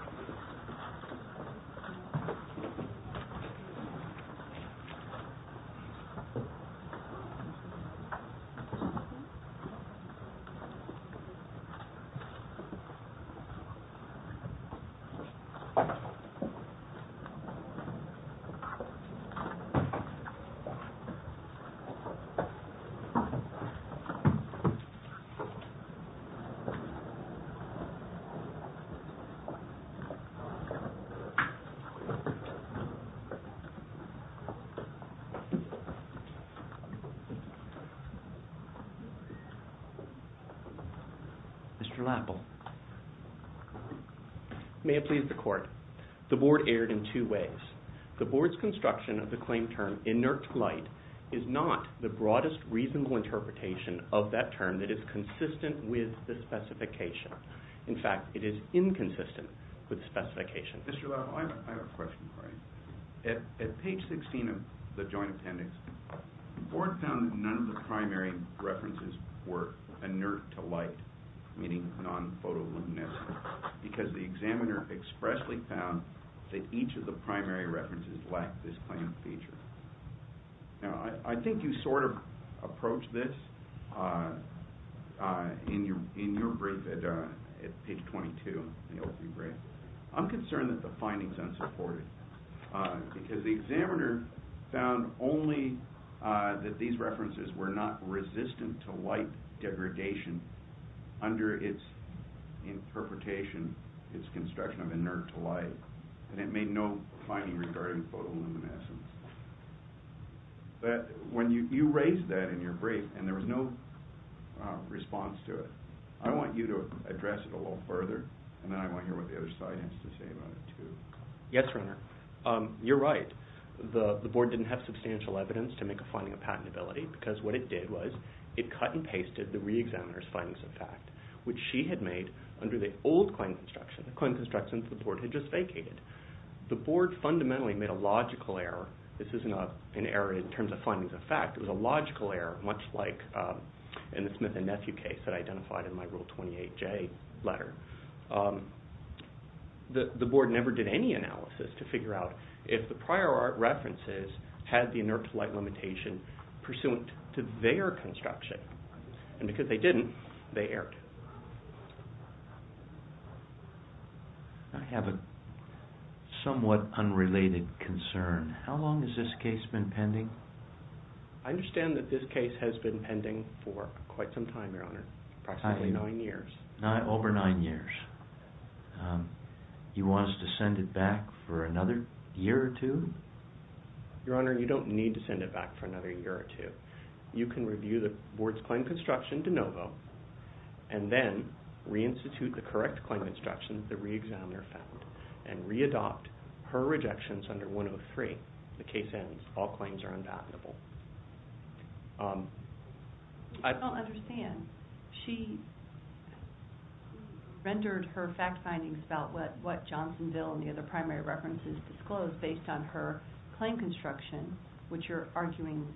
TEMPO LIGHTING, INC. v. TIVOLI, LLC TEMPO LIGHTING, INC. v. TIVOLI, LLC TEMPO LIGHTING, INC. v. TIVOLI, LLC Mr. Lapple. May it please the Court. The Board erred in two ways. The Board's construction of the claim term, inert light, is not the broadest reasonable interpretation of that term that is consistent with the specification. In fact, it is inconsistent with the specification. Mr. Lapple, I have a question for you. At page 16 of the Joint Appendix, the Board found that none of the primary references were inert to light, meaning non-photoluminescent, because the examiner expressly found that each of the primary references lacked this claim feature. Now, I think you sort of approached this in your brief at page 22, the O3 brief. I'm concerned that the finding's unsupported, because the examiner found only that these references were not resistant to light degradation under its interpretation, its construction of inert to light, and it made no finding regarding photoluminescence. But you raised that in your brief, and there was no response to it. I want you to address it a little further, and then I want to hear what the other side has to say about it too. Yes, Reiner. You're right. The Board didn't have substantial evidence to make a finding of patentability, because what it did was it cut and pasted the re-examiner's findings of fact, which she had made under the old claim construction, the claim construction the Board had just vacated. The Board fundamentally made a logical error. This is not an error in terms of findings of fact. It was a logical error, much like in the Smith and Nethew case that I identified in my Rule 28J letter. The Board never did any analysis to figure out if the prior art references had the inert to light limitation pursuant to their construction. And because they didn't, they erred. I have a somewhat unrelated concern. How long has this case been pending? I understand that this case has been pending for quite some time, Your Honor, approximately nine years. Over nine years. You want us to send it back for another year or two? Your Honor, you don't need to send it back for another year or two. You can review the Board's claim construction de novo, and then reinstitute the correct claim construction the re-examiner found, and re-adopt her rejections under 103. The case ends. All claims are undeniable. I don't understand. She rendered her fact findings about what Johnsonville and the other primary references disclosed based on her claim construction, which you're arguing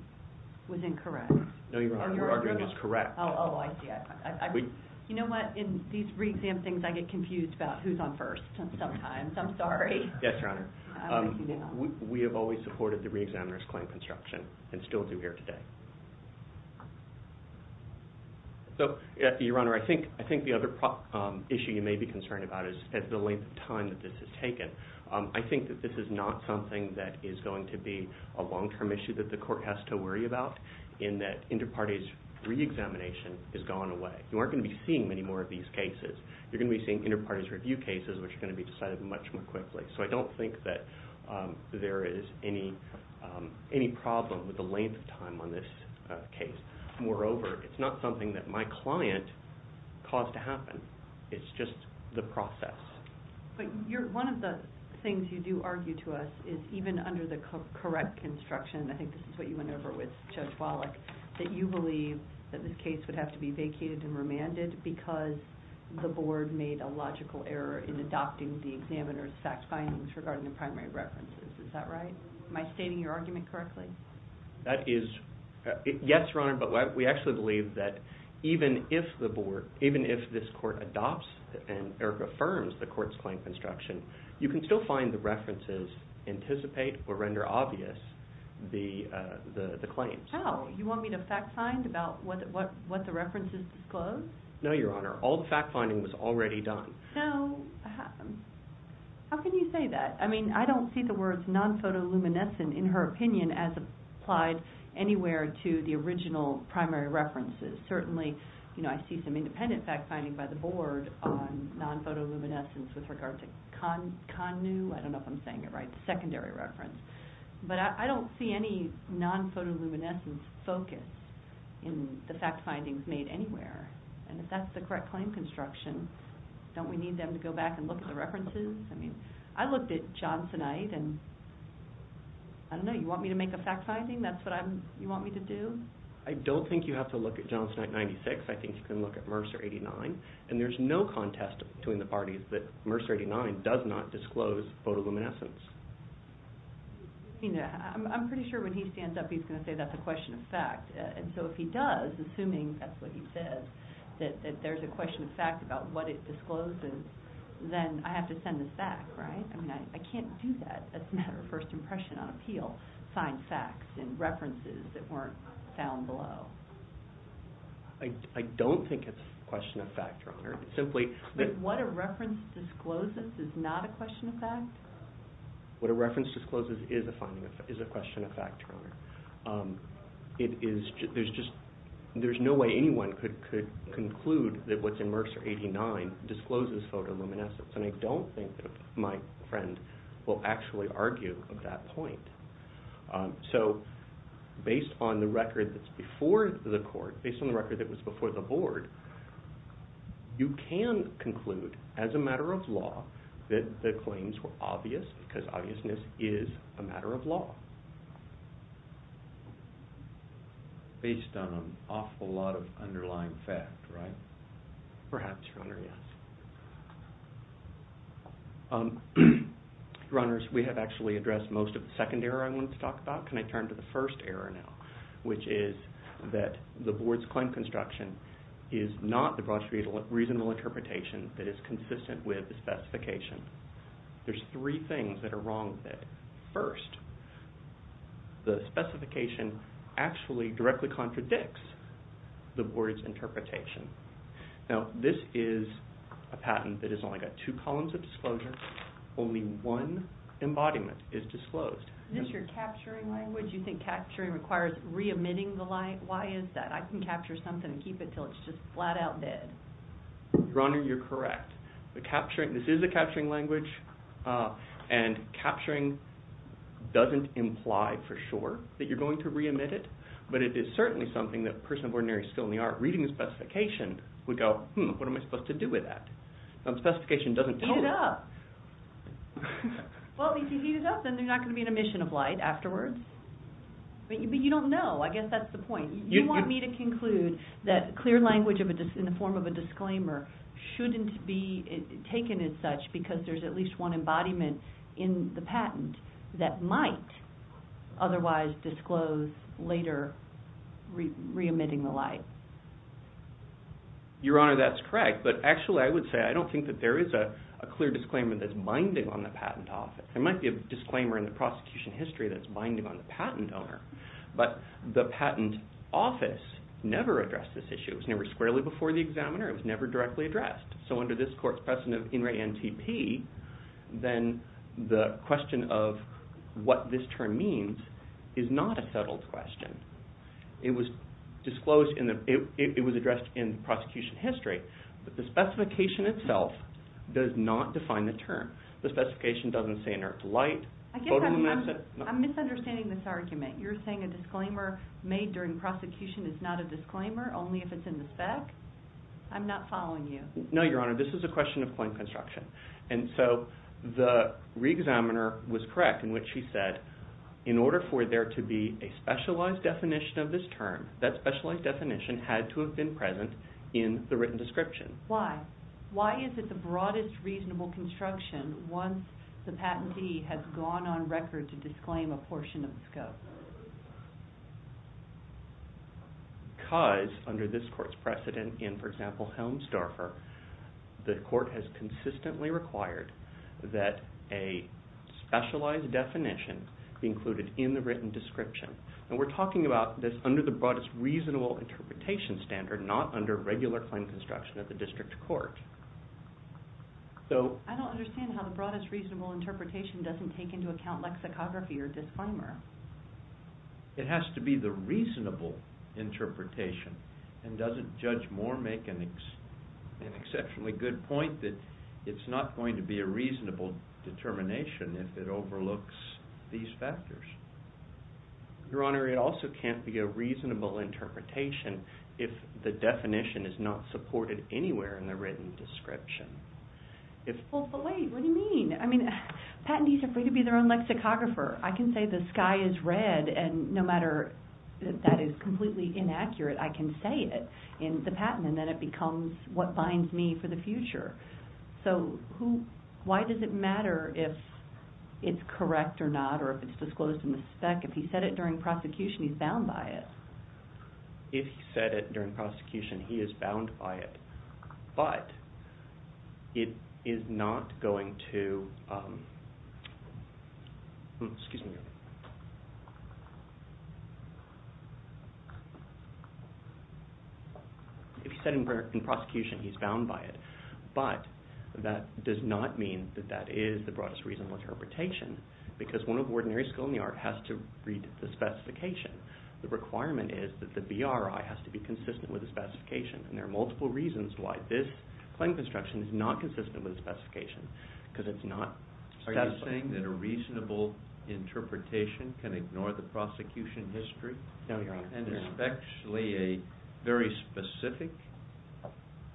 was incorrect. No, Your Honor, your arguing is correct. Oh, I see. You know what, in these re-exam things, I get confused about who's on first sometimes. I'm sorry. Yes, Your Honor. We have always supported the re-examiner's claim construction and still do here today. Your Honor, I think the other issue you may be concerned about is the length of time that this has taken. I think that this is not something that is going to be a long-term issue that the court has to worry about, in that inter-parties re-examination has gone away. You aren't going to be seeing many more of these cases. You're going to be seeing inter-parties review cases, which are going to be decided much more quickly. So I don't think that there is any problem with the length of time on this case. Moreover, it's not something that my client caused to happen. It's just the process. But one of the things you do argue to us is even under the correct construction, I think this is what you went over with Judge Wallach, that you believe that this case would have to be vacated and remanded because the board made a logical error in adopting the examiner's fact findings regarding the primary references. Is that right? Am I stating your argument correctly? Yes, Your Honor. But we actually believe that even if this court adopts and affirms the court's claim construction, you can still find the references anticipate or render obvious the claims. Oh, you want me to fact find about what the references disclose? No, Your Honor. All the fact finding was already done. No. How can you say that? I mean, I don't see the words non-photoluminescent in her opinion as applied anywhere to the original primary references. Certainly, I see some independent fact finding by the board on non-photoluminescence with regard to CONNU. I don't know if I'm saying it right, the secondary reference. But I don't see any non-photoluminescence focus in the fact findings made anywhere. And if that's the correct claim construction, don't we need them to go back and look at the references? I mean, I looked at Johnsonite and, I don't know, you want me to make a fact finding? That's what you want me to do? I don't think you have to look at Johnsonite 96. I think you can look at Mercer 89. And there's no contest between the parties that Mercer 89 does not disclose photoluminescence. I mean, I'm pretty sure when he stands up, he's going to say that's a question of fact. And so if he does, assuming that's what he says, that there's a question of fact about what it discloses, then I have to send this back, right? I mean, I can't do that. That's a matter of first impression on appeal, find facts and references that weren't found below. I don't think it's a question of fact, Your Honor. But what a reference discloses is not a question of fact? What a reference discloses is a question of fact, Your Honor. There's no way anyone could conclude that what's in Mercer 89 discloses photoluminescence. And I don't think that my friend will actually argue that point. So based on the record that's before the court, based on the record that was before the board, you can conclude, as a matter of law, that the claims were obvious, because obviousness is a matter of law. Based on an awful lot of underlying fact, right? Perhaps, Your Honor, yes. Your Honors, we have actually addressed most of the second error I wanted to talk about. Can I turn to the first error now, which is that the board's claim construction is not the broad, reasonable interpretation that is consistent with the specification. There's three things that are wrong with it. First, the specification actually directly contradicts the board's interpretation. Now, this is a patent that has only got two columns of disclosure. Only one embodiment is disclosed. Is this your capturing language? You think capturing requires re-emitting the light? Why is that? I can capture something and keep it until it's just flat-out dead. Your Honor, you're correct. This is a capturing language, and capturing doesn't imply for sure that you're going to re-emit it, but it is certainly something that a person of ordinary skill in the art of reading the specification would go, hmm, what am I supposed to do with that? The specification doesn't tell you. Heat it up. Well, if you heat it up, then there's not going to be an emission of light afterwards. But you don't know. I guess that's the point. You want me to conclude that clear language in the form of a disclaimer shouldn't be taken as such because there's at least one embodiment in the patent that might otherwise disclose later re-emitting the light. Your Honor, that's correct, but actually I would say I don't think that there is a clear disclaimer that's binding on the patent office. There might be a disclaimer in the prosecution history that's binding on the patent owner, but the patent office never addressed this issue. It was never squarely before the examiner. It was never directly addressed. So under this court's precedent of in re NTP, then the question of what this term means is not a settled question. It was addressed in the prosecution history, but the specification itself does not define the term. The specification doesn't say inert light. I guess I'm misunderstanding this argument. You're saying a disclaimer made during prosecution is not a disclaimer only if it's in the spec? I'm not following you. No, Your Honor. This is a question of claim construction. And so the re-examiner was correct in which she said in order for there to be a specialized definition of this term, that specialized definition had to have been present in the written description. Why? Why is it the broadest reasonable construction once the patentee has gone on record to disclaim a portion of the scope? Because under this court's precedent in, for example, Helms-Darfur, the court has consistently required that a specialized definition be included in the written description. And we're talking about this under the broadest reasonable interpretation standard, not under regular claim construction of the district court. I don't understand how the broadest reasonable interpretation doesn't take into account lexicography or disclaimer. It has to be the reasonable interpretation. And doesn't Judge Moore make an exceptionally good point that it's not going to be a reasonable determination if it overlooks these factors? Your Honor, it also can't be a reasonable interpretation if the definition is not supported anywhere in the written description. Wait, what do you mean? I mean, patentees are free to be their own lexicographer. I can say the sky is red, and no matter if that is completely inaccurate, I can say it in the patent, and then it becomes what binds me for the future. So why does it matter if it's correct or not or if it's disclosed in the spec? If he said it during prosecution, he's bound by it. If he said it during prosecution, he is bound by it. But it is not going to... If he said it in prosecution, he's bound by it. But that does not mean that that is the broadest reasonable interpretation because one of ordinary school in the art has to read the specification. The requirement is that the BRI has to be consistent with the specification, and there are multiple reasons why this claim construction is not consistent with the specification because it's not... Are you saying that a reasonable interpretation can ignore the prosecution history? No, Your Honor. And especially a very specific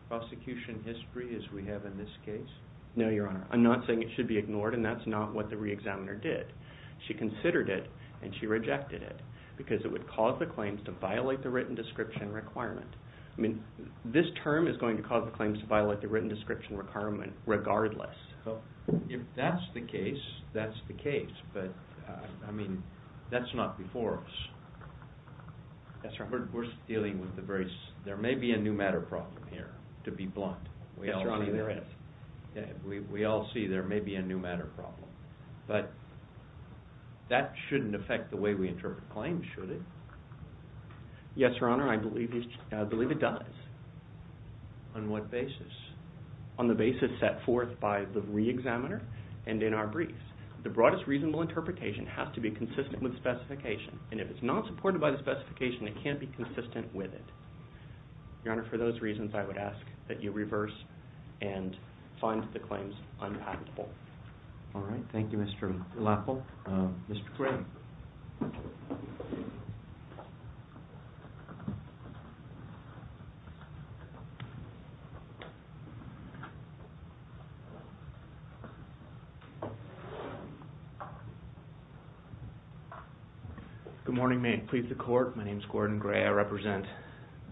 prosecution history as we have in this case? No, Your Honor. I'm not saying it should be ignored, and that's not what the re-examiner did. She considered it, and she rejected it because it would cause the claims to violate the written description requirement. I mean, this term is going to cause the claims to violate the written description requirement regardless. If that's the case, that's the case. But, I mean, that's not before us. We're dealing with the very... There may be a new matter problem here, to be blunt. Yes, Your Honor, there is. We all see there may be a new matter problem. But that shouldn't affect the way we interpret claims, should it? Yes, Your Honor, I believe it does. On what basis? On the basis set forth by the re-examiner and in our briefs. The broadest reasonable interpretation has to be consistent with the specification, and if it's not supported by the specification, it can't be consistent with it. Your Honor, for those reasons, I would ask that you reverse and find the claims unpackable. All right. Thank you, Mr. Lapple. Mr. Gray. Good morning. May it please the Court. My name is Gordon Gray. I represent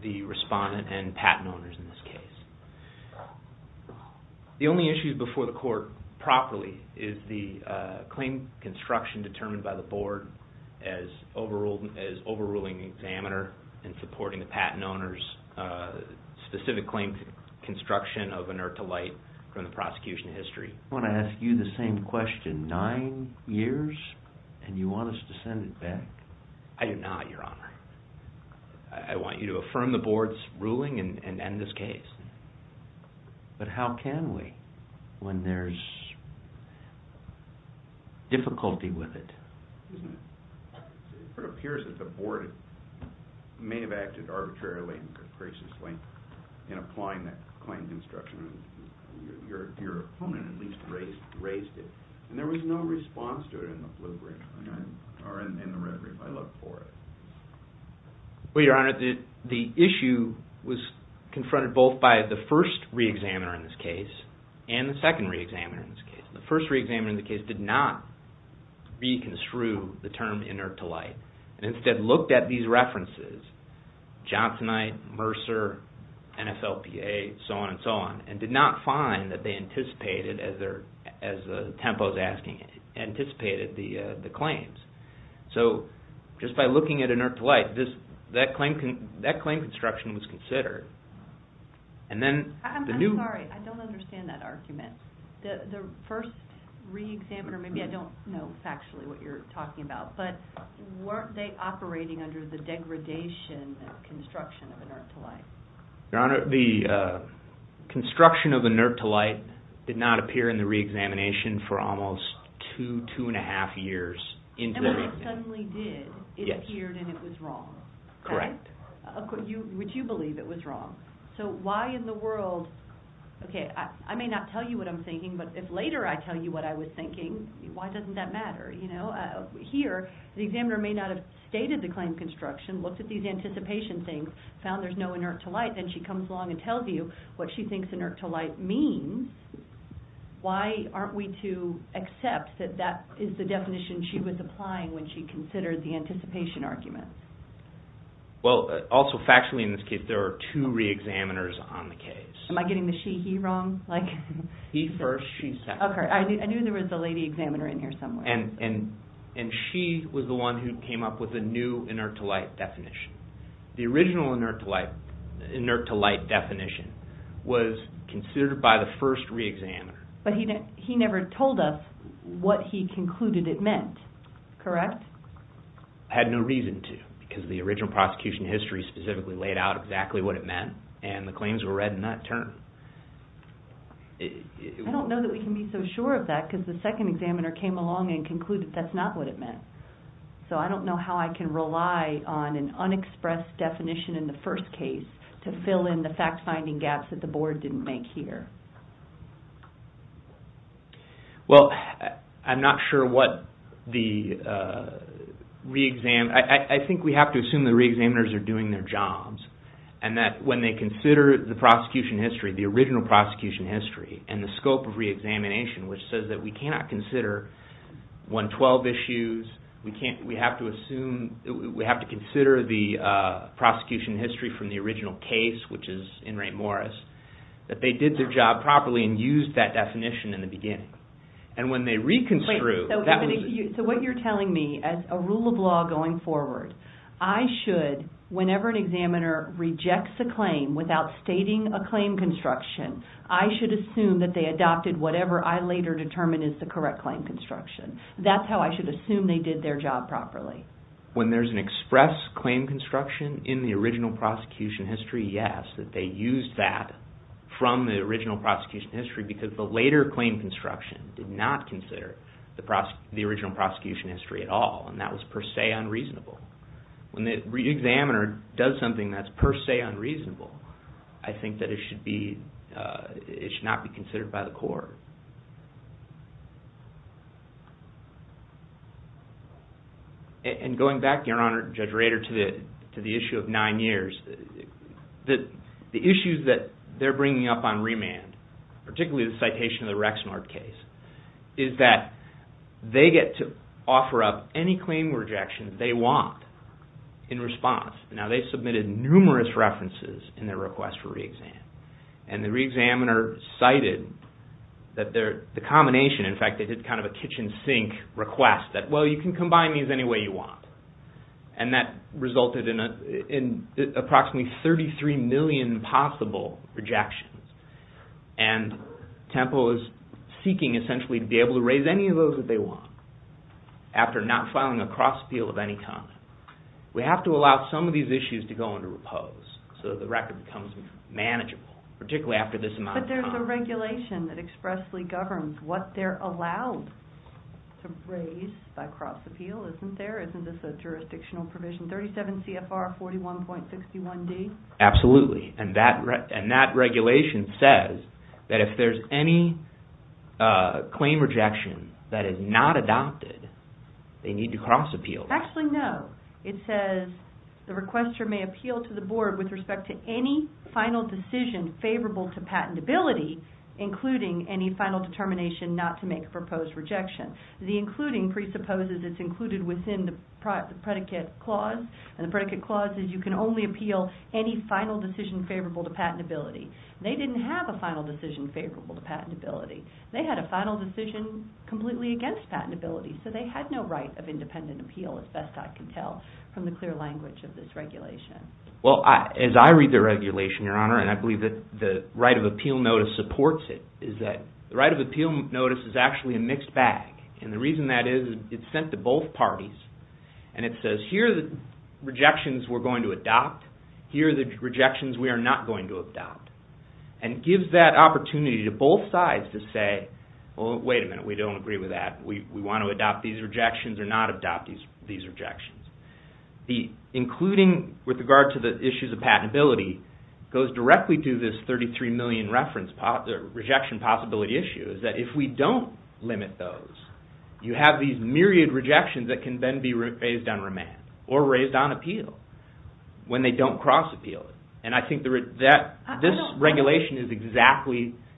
the respondent and patent owners in this case. The only issue before the Court, properly, is the claim construction determined by the Board as overruling the examiner and supporting the patent owners' specific claim construction of inert to light from the prosecution history. I want to ask you the same question nine years, and you want us to send it back? I do not, Your Honor. I want you to affirm the Board's ruling and end this case. But how can we when there's difficulty with it? It appears that the Board may have acted arbitrarily and capriciously in applying that claim construction. Your opponent at least raised it, and there was no response to it in the red brief. I looked for it. Well, Your Honor, the issue was confronted both by the first re-examiner in this case and the second re-examiner in this case. The first re-examiner in this case did not reconstrue the term inert to light and instead looked at these references, Johnsonite, Mercer, NFLPA, so on and so on, and did not find that they anticipated, as Tempo is asking, anticipated the claims. So just by looking at inert to light, that claim construction was considered. I'm sorry, I don't understand that argument. The first re-examiner, maybe I don't know factually what you're talking about, but weren't they operating under the degradation of construction of inert to light? Your Honor, the construction of inert to light did not appear in the re-examination for almost two, two and a half years. And when it suddenly did, it appeared and it was wrong. Correct. Would you believe it was wrong? So why in the world, okay, I may not tell you what I'm thinking, but if later I tell you what I was thinking, why doesn't that matter? Here, the examiner may not have stated the claim construction, looked at these anticipation things, found there's no inert to light, then she comes along and tells you what she thinks inert to light means. Why aren't we to accept that that is the definition she was applying when she considered the anticipation argument? Well, also factually in this case, there are two re-examiners on the case. Am I getting the she-he wrong? He first, she second. Okay, I knew there was a lady examiner in here somewhere. And she was the one who came up with the new inert to light definition. The original inert to light definition was considered by the first re-examiner. But he never told us what he concluded it meant, correct? Had no reason to because the original prosecution history specifically laid out exactly what it meant, and the claims were read in that term. I don't know that we can be so sure of that because the second examiner came along and concluded that's not what it meant. So I don't know how I can rely on an unexpressed definition in the first case to fill in the fact-finding gaps that the board didn't make here. Well, I'm not sure what the re-examiner, I think we have to assume the re-examiners are doing their jobs, and that when they consider the prosecution history, the original prosecution history, and the scope of re-examination, which says that we cannot consider 112 issues, we have to consider the prosecution history from the original case, which is in Ray Morris, that they did their job properly and used that definition in the beginning. And when they reconstitute, that was... So what you're telling me, as a rule of law going forward, I should, whenever an examiner rejects a claim without stating a claim construction, I should assume that they adopted whatever I later determined is the correct claim construction. That's how I should assume they did their job properly. When there's an express claim construction in the original prosecution history, yes, that they used that from the original prosecution history because the later claim construction did not consider the original prosecution history at all, and that was per se unreasonable. When the re-examiner does something that's per se unreasonable, I think that it should not be considered by the court. And going back, Your Honor, Judge Rader, to the issue of nine years, the issues that they're bringing up on remand, particularly the citation of the Rexnard case, is that they get to offer up any claim rejection they want in response. Now, they submitted numerous references in their request for re-exam, and the re-examiner cited that the combination, in fact, they did kind of a kitchen sink request, that, well, you can combine these any way you want. And that resulted in approximately 33 million possible rejections. And TEMPO is seeking, essentially, to be able to raise any of those that they want after not filing a cross-appeal of any kind. We have to allow some of these issues to go under repose so that the record becomes manageable, particularly after this amount of time. But there's a regulation that expressly governs what they're allowed to raise by cross-appeal, isn't there? Isn't this a jurisdictional provision, 37 CFR 41.61D? Absolutely. And that regulation says that if there's any claim rejection that is not adopted, they need to cross-appeal. Actually, no. It says the requester may appeal to the board with respect to any final decision favorable to patentability, including any final determination not to make a proposed rejection. The including presupposes it's included within the predicate clause, and the predicate clause is you can only appeal any final decision favorable to patentability. They didn't have a final decision favorable to patentability. They had a final decision completely against patentability, so they had no right of independent appeal, as best I can tell, from the clear language of this regulation. Well, as I read the regulation, Your Honor, and I believe that the right of appeal notice supports it, is that the right of appeal notice is actually a mixed bag. And the reason that is, it's sent to both parties, and it says here are the rejections we're going to adopt, here are the rejections we are not going to adopt. And it gives that opportunity to both sides to say, well, wait a minute, we don't agree with that. We want to adopt these rejections or not adopt these rejections. The including with regard to the issues of patentability goes directly to this 33 million rejection possibility issue, is that if we don't limit those, you have these myriad rejections that can then be raised on remand or raised on appeal when they don't cross appeal. And I think this regulation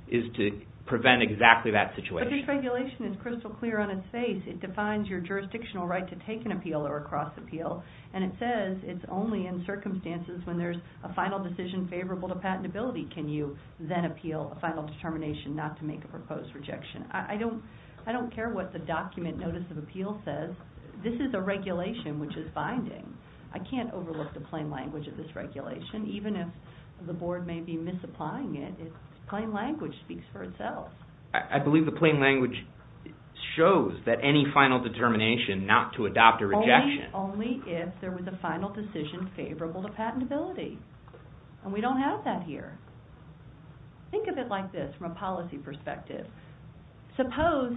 is to prevent exactly that situation. But this regulation is crystal clear on its face. It defines your jurisdictional right to take an appeal or a cross appeal, and it says it's only in circumstances when there's a final decision favorable to patentability can you then appeal a final determination not to make a proposed rejection. I don't care what the document notice of appeal says. This is a regulation which is binding. I can't overlook the plain language of this regulation. Even if the board may be misapplying it, plain language speaks for itself. I believe the plain language shows that any final determination not to adopt a rejection. Only if there was a final decision favorable to patentability. And we don't have that here. Think of it like this from a policy perspective. Suppose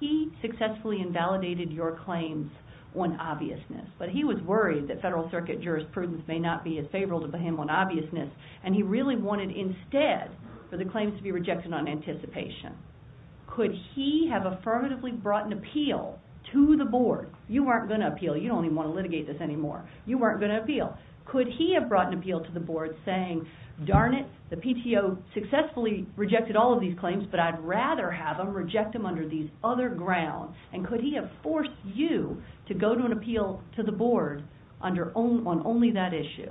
he successfully invalidated your claims on obviousness, but he was worried that federal circuit jurisprudence may not be as favorable to him on obviousness, and he really wanted instead for the claims to be rejected on anticipation. Could he have affirmatively brought an appeal to the board? You weren't going to appeal. You don't even want to litigate this anymore. You weren't going to appeal. Could he have brought an appeal to the board saying, darn it, the PTO successfully rejected all of these claims, but I'd rather have them reject them under these other grounds. And could he have forced you to go to an appeal to the board on only that issue?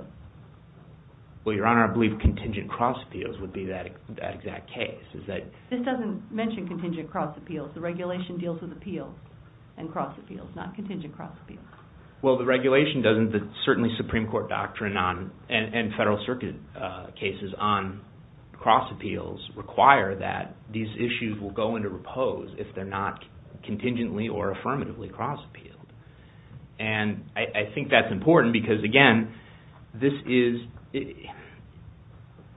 Well, Your Honor, I believe contingent cross appeals would be that exact case. This doesn't mention contingent cross appeals. The regulation deals with appeals and cross appeals, not contingent cross appeals. Well, the regulation doesn't. Certainly Supreme Court doctrine and federal circuit cases on cross appeals require that these issues will go into repose if they're not contingently or affirmatively cross appealed. And I think that's important because, again, this is so wieldy.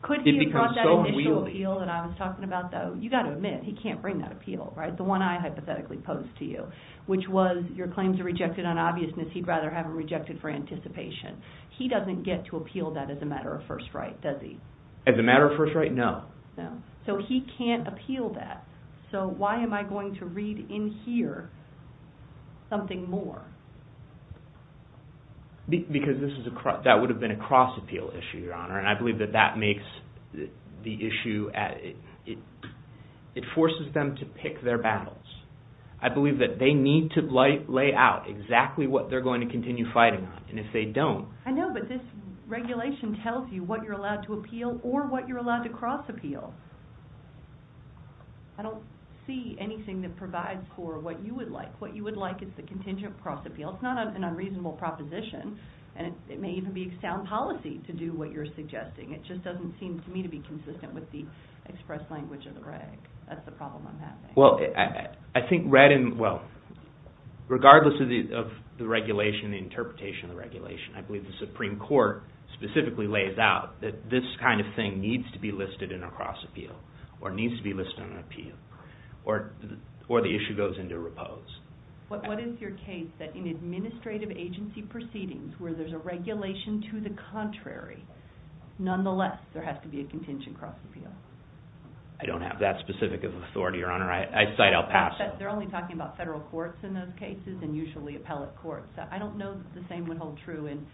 Could he have brought that initial appeal that I was talking about, though? You've got to admit, he can't bring that appeal, right, the one I hypothetically posed to you, which was your claims are rejected on obviousness, he'd rather have them rejected for anticipation. He doesn't get to appeal that as a matter of first right, does he? As a matter of first right, no. So he can't appeal that. So why am I going to read in here something more? Because that would have been a cross appeal issue, Your Honor, and I believe that that makes the issue at it forces them to pick their battles. I believe that they need to lay out exactly what they're going to continue fighting on, and if they don't. I know, but this regulation tells you what you're allowed to appeal or what you're allowed to cross appeal. I don't see anything that provides for what you would like. What you would like is the contingent cross appeal. It's not an unreasonable proposition, and it may even be sound policy to do what you're suggesting. It just doesn't seem to me to be consistent with the express language of the reg. That's the problem I'm having. Well, I think read in, well, regardless of the regulation, the interpretation of the regulation, I believe the Supreme Court specifically lays out that this kind of thing needs to be listed in a cross appeal or needs to be listed on an appeal or the issue goes into repose. What is your case that in administrative agency proceedings where there's a regulation to the contrary, nonetheless there has to be a contingent cross appeal? I don't have that specific of authority, Your Honor. I cite El Paso. They're only talking about federal courts in those cases and usually appellate courts. I don't know that the same would hold true in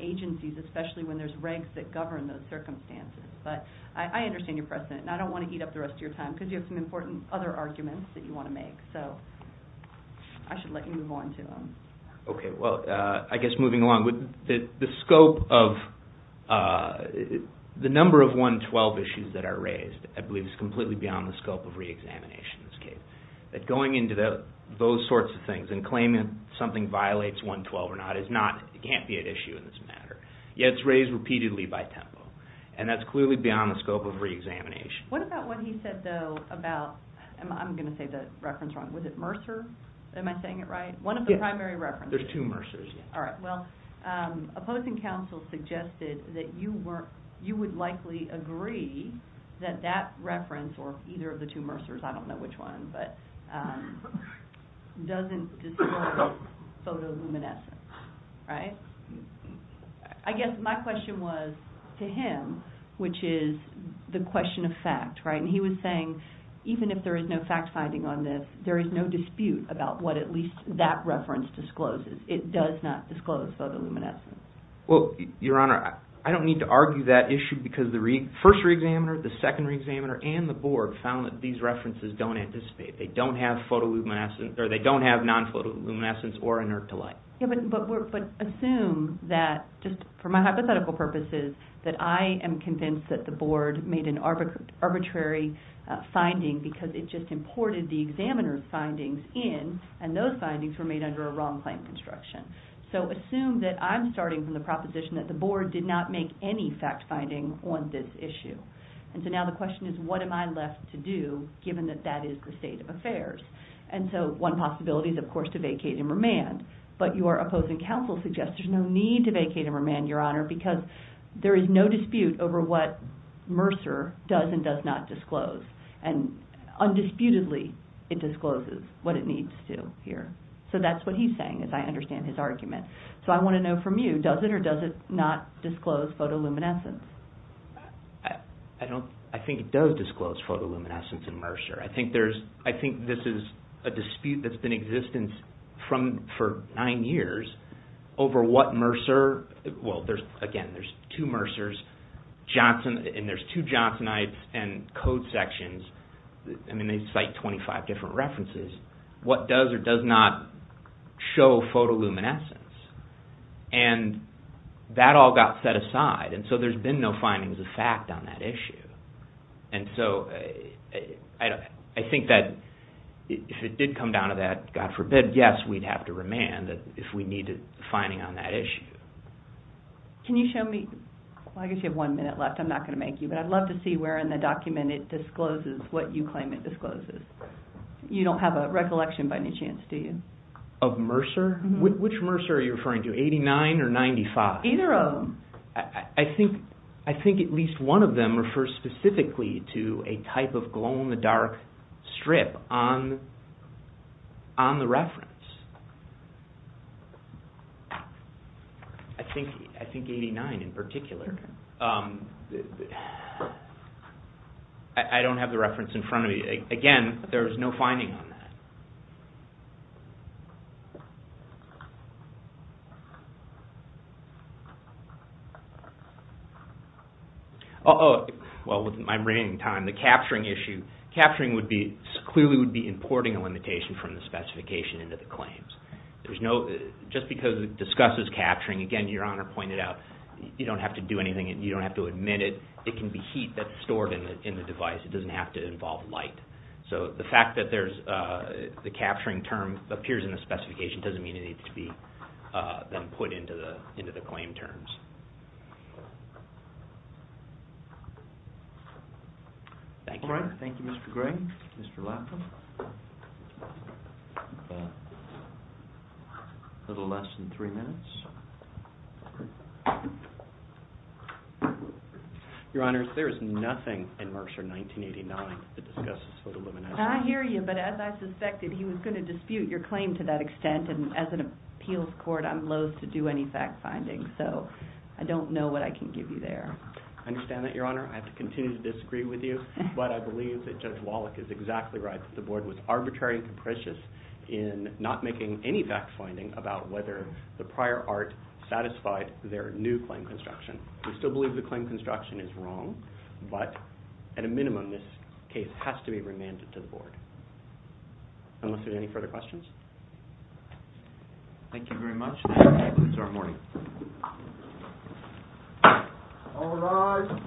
agencies, especially when there's regs that govern those circumstances. But I understand your precedent, and I don't want to eat up the rest of your time because you have some important other arguments that you want to make. So I should let you move on to them. Okay, well, I guess moving along, the number of 112 issues that are raised, I believe, is completely beyond the scope of reexamination in this case. That going into those sorts of things and claiming something violates 112 or not can't be at issue in this matter. Yet it's raised repeatedly by tempo, and that's clearly beyond the scope of reexamination. What about what he said, though, about, I'm going to say the reference wrong, was it Mercer? Am I saying it right? One of the primary references. There's two Mercers. All right, well, opposing counsel suggested that you would likely agree that that reference or either of the two Mercers, I don't know which one, but doesn't disclose photoluminescence, right? I guess my question was to him, which is the question of fact, right? And he was saying even if there is no fact-finding on this, there is no dispute about what at least that reference discloses. It does not disclose photoluminescence. Well, Your Honor, I don't need to argue that issue because the first reexaminer, the second reexaminer, and the board found that these references don't anticipate. They don't have non-photoluminescence or inert to light. But assume that, just for my hypothetical purposes, that I am convinced that the board made an arbitrary finding because it just imported the examiner's findings in, and those findings were made under a wrong claim construction. So assume that I'm starting from the proposition that the board did not make any fact-finding on this issue. And so now the question is what am I left to do given that that is the state of affairs? And so one possibility is, of course, to vacate and remand. But your opposing counsel suggests there's no need to vacate and remand, Your Honor, because there is no dispute over what Mercer does and does not disclose. And undisputedly, it discloses what it needs to here. So that's what he's saying, as I understand his argument. So I want to know from you, does it or does it not disclose photoluminescence? I think it does disclose photoluminescence in Mercer. I think this is a dispute that's been in existence for nine years over what Mercer, well, again, there's two Mercers, and there's two Johnsonites and code sections. I mean, they cite 25 different references. What does or does not show photoluminescence? And that all got set aside. And so there's been no findings of fact on that issue. And so I think that if it did come down to that, God forbid, yes, we'd have to remand if we needed a finding on that issue. Can you show me? Well, I guess you have one minute left. I'm not going to make you, but I'd love to see where in the document it discloses what you claim it discloses. You don't have a recollection by any chance, do you? Of Mercer? Which Mercer are you referring to, 89 or 95? Either of them. I think at least one of them refers specifically to a type of glow-in-the-dark strip on the reference. I think 89 in particular. I don't have the reference in front of me. Again, there's no finding on that. Well, with my reigning time, the capturing issue. Capturing clearly would be importing a limitation from the specification into the claims. Just because it discusses capturing, again, Your Honor pointed out, you don't have to do anything. You don't have to admit it. It can be heat that's stored in the device. It doesn't have to involve light. So the fact that the capturing term appears in the specification doesn't mean it needs to be then put into the claim terms. Thank you. Thank you, Mr. Gray. Mr. Latham. A little less than three minutes. Your Honor, there is nothing in Mercer 1989 that discusses photoluminescence. I hear you, but as I suspected, he was going to dispute your claim to that extent, and as an appeals court, I'm loathe to do any fact-finding. So I don't know what I can give you there. I understand that, Your Honor. I have to continue to disagree with you, but I believe that Judge Wallach is exactly right, that the Board was arbitrary and capricious in not making any fact-finding about whether the prior art satisfied their new claim construction. We still believe the claim construction is wrong, but at a minimum this case has to be remanded to the Board. Unless there's any further questions? Thank you very much. That concludes our morning. All rise.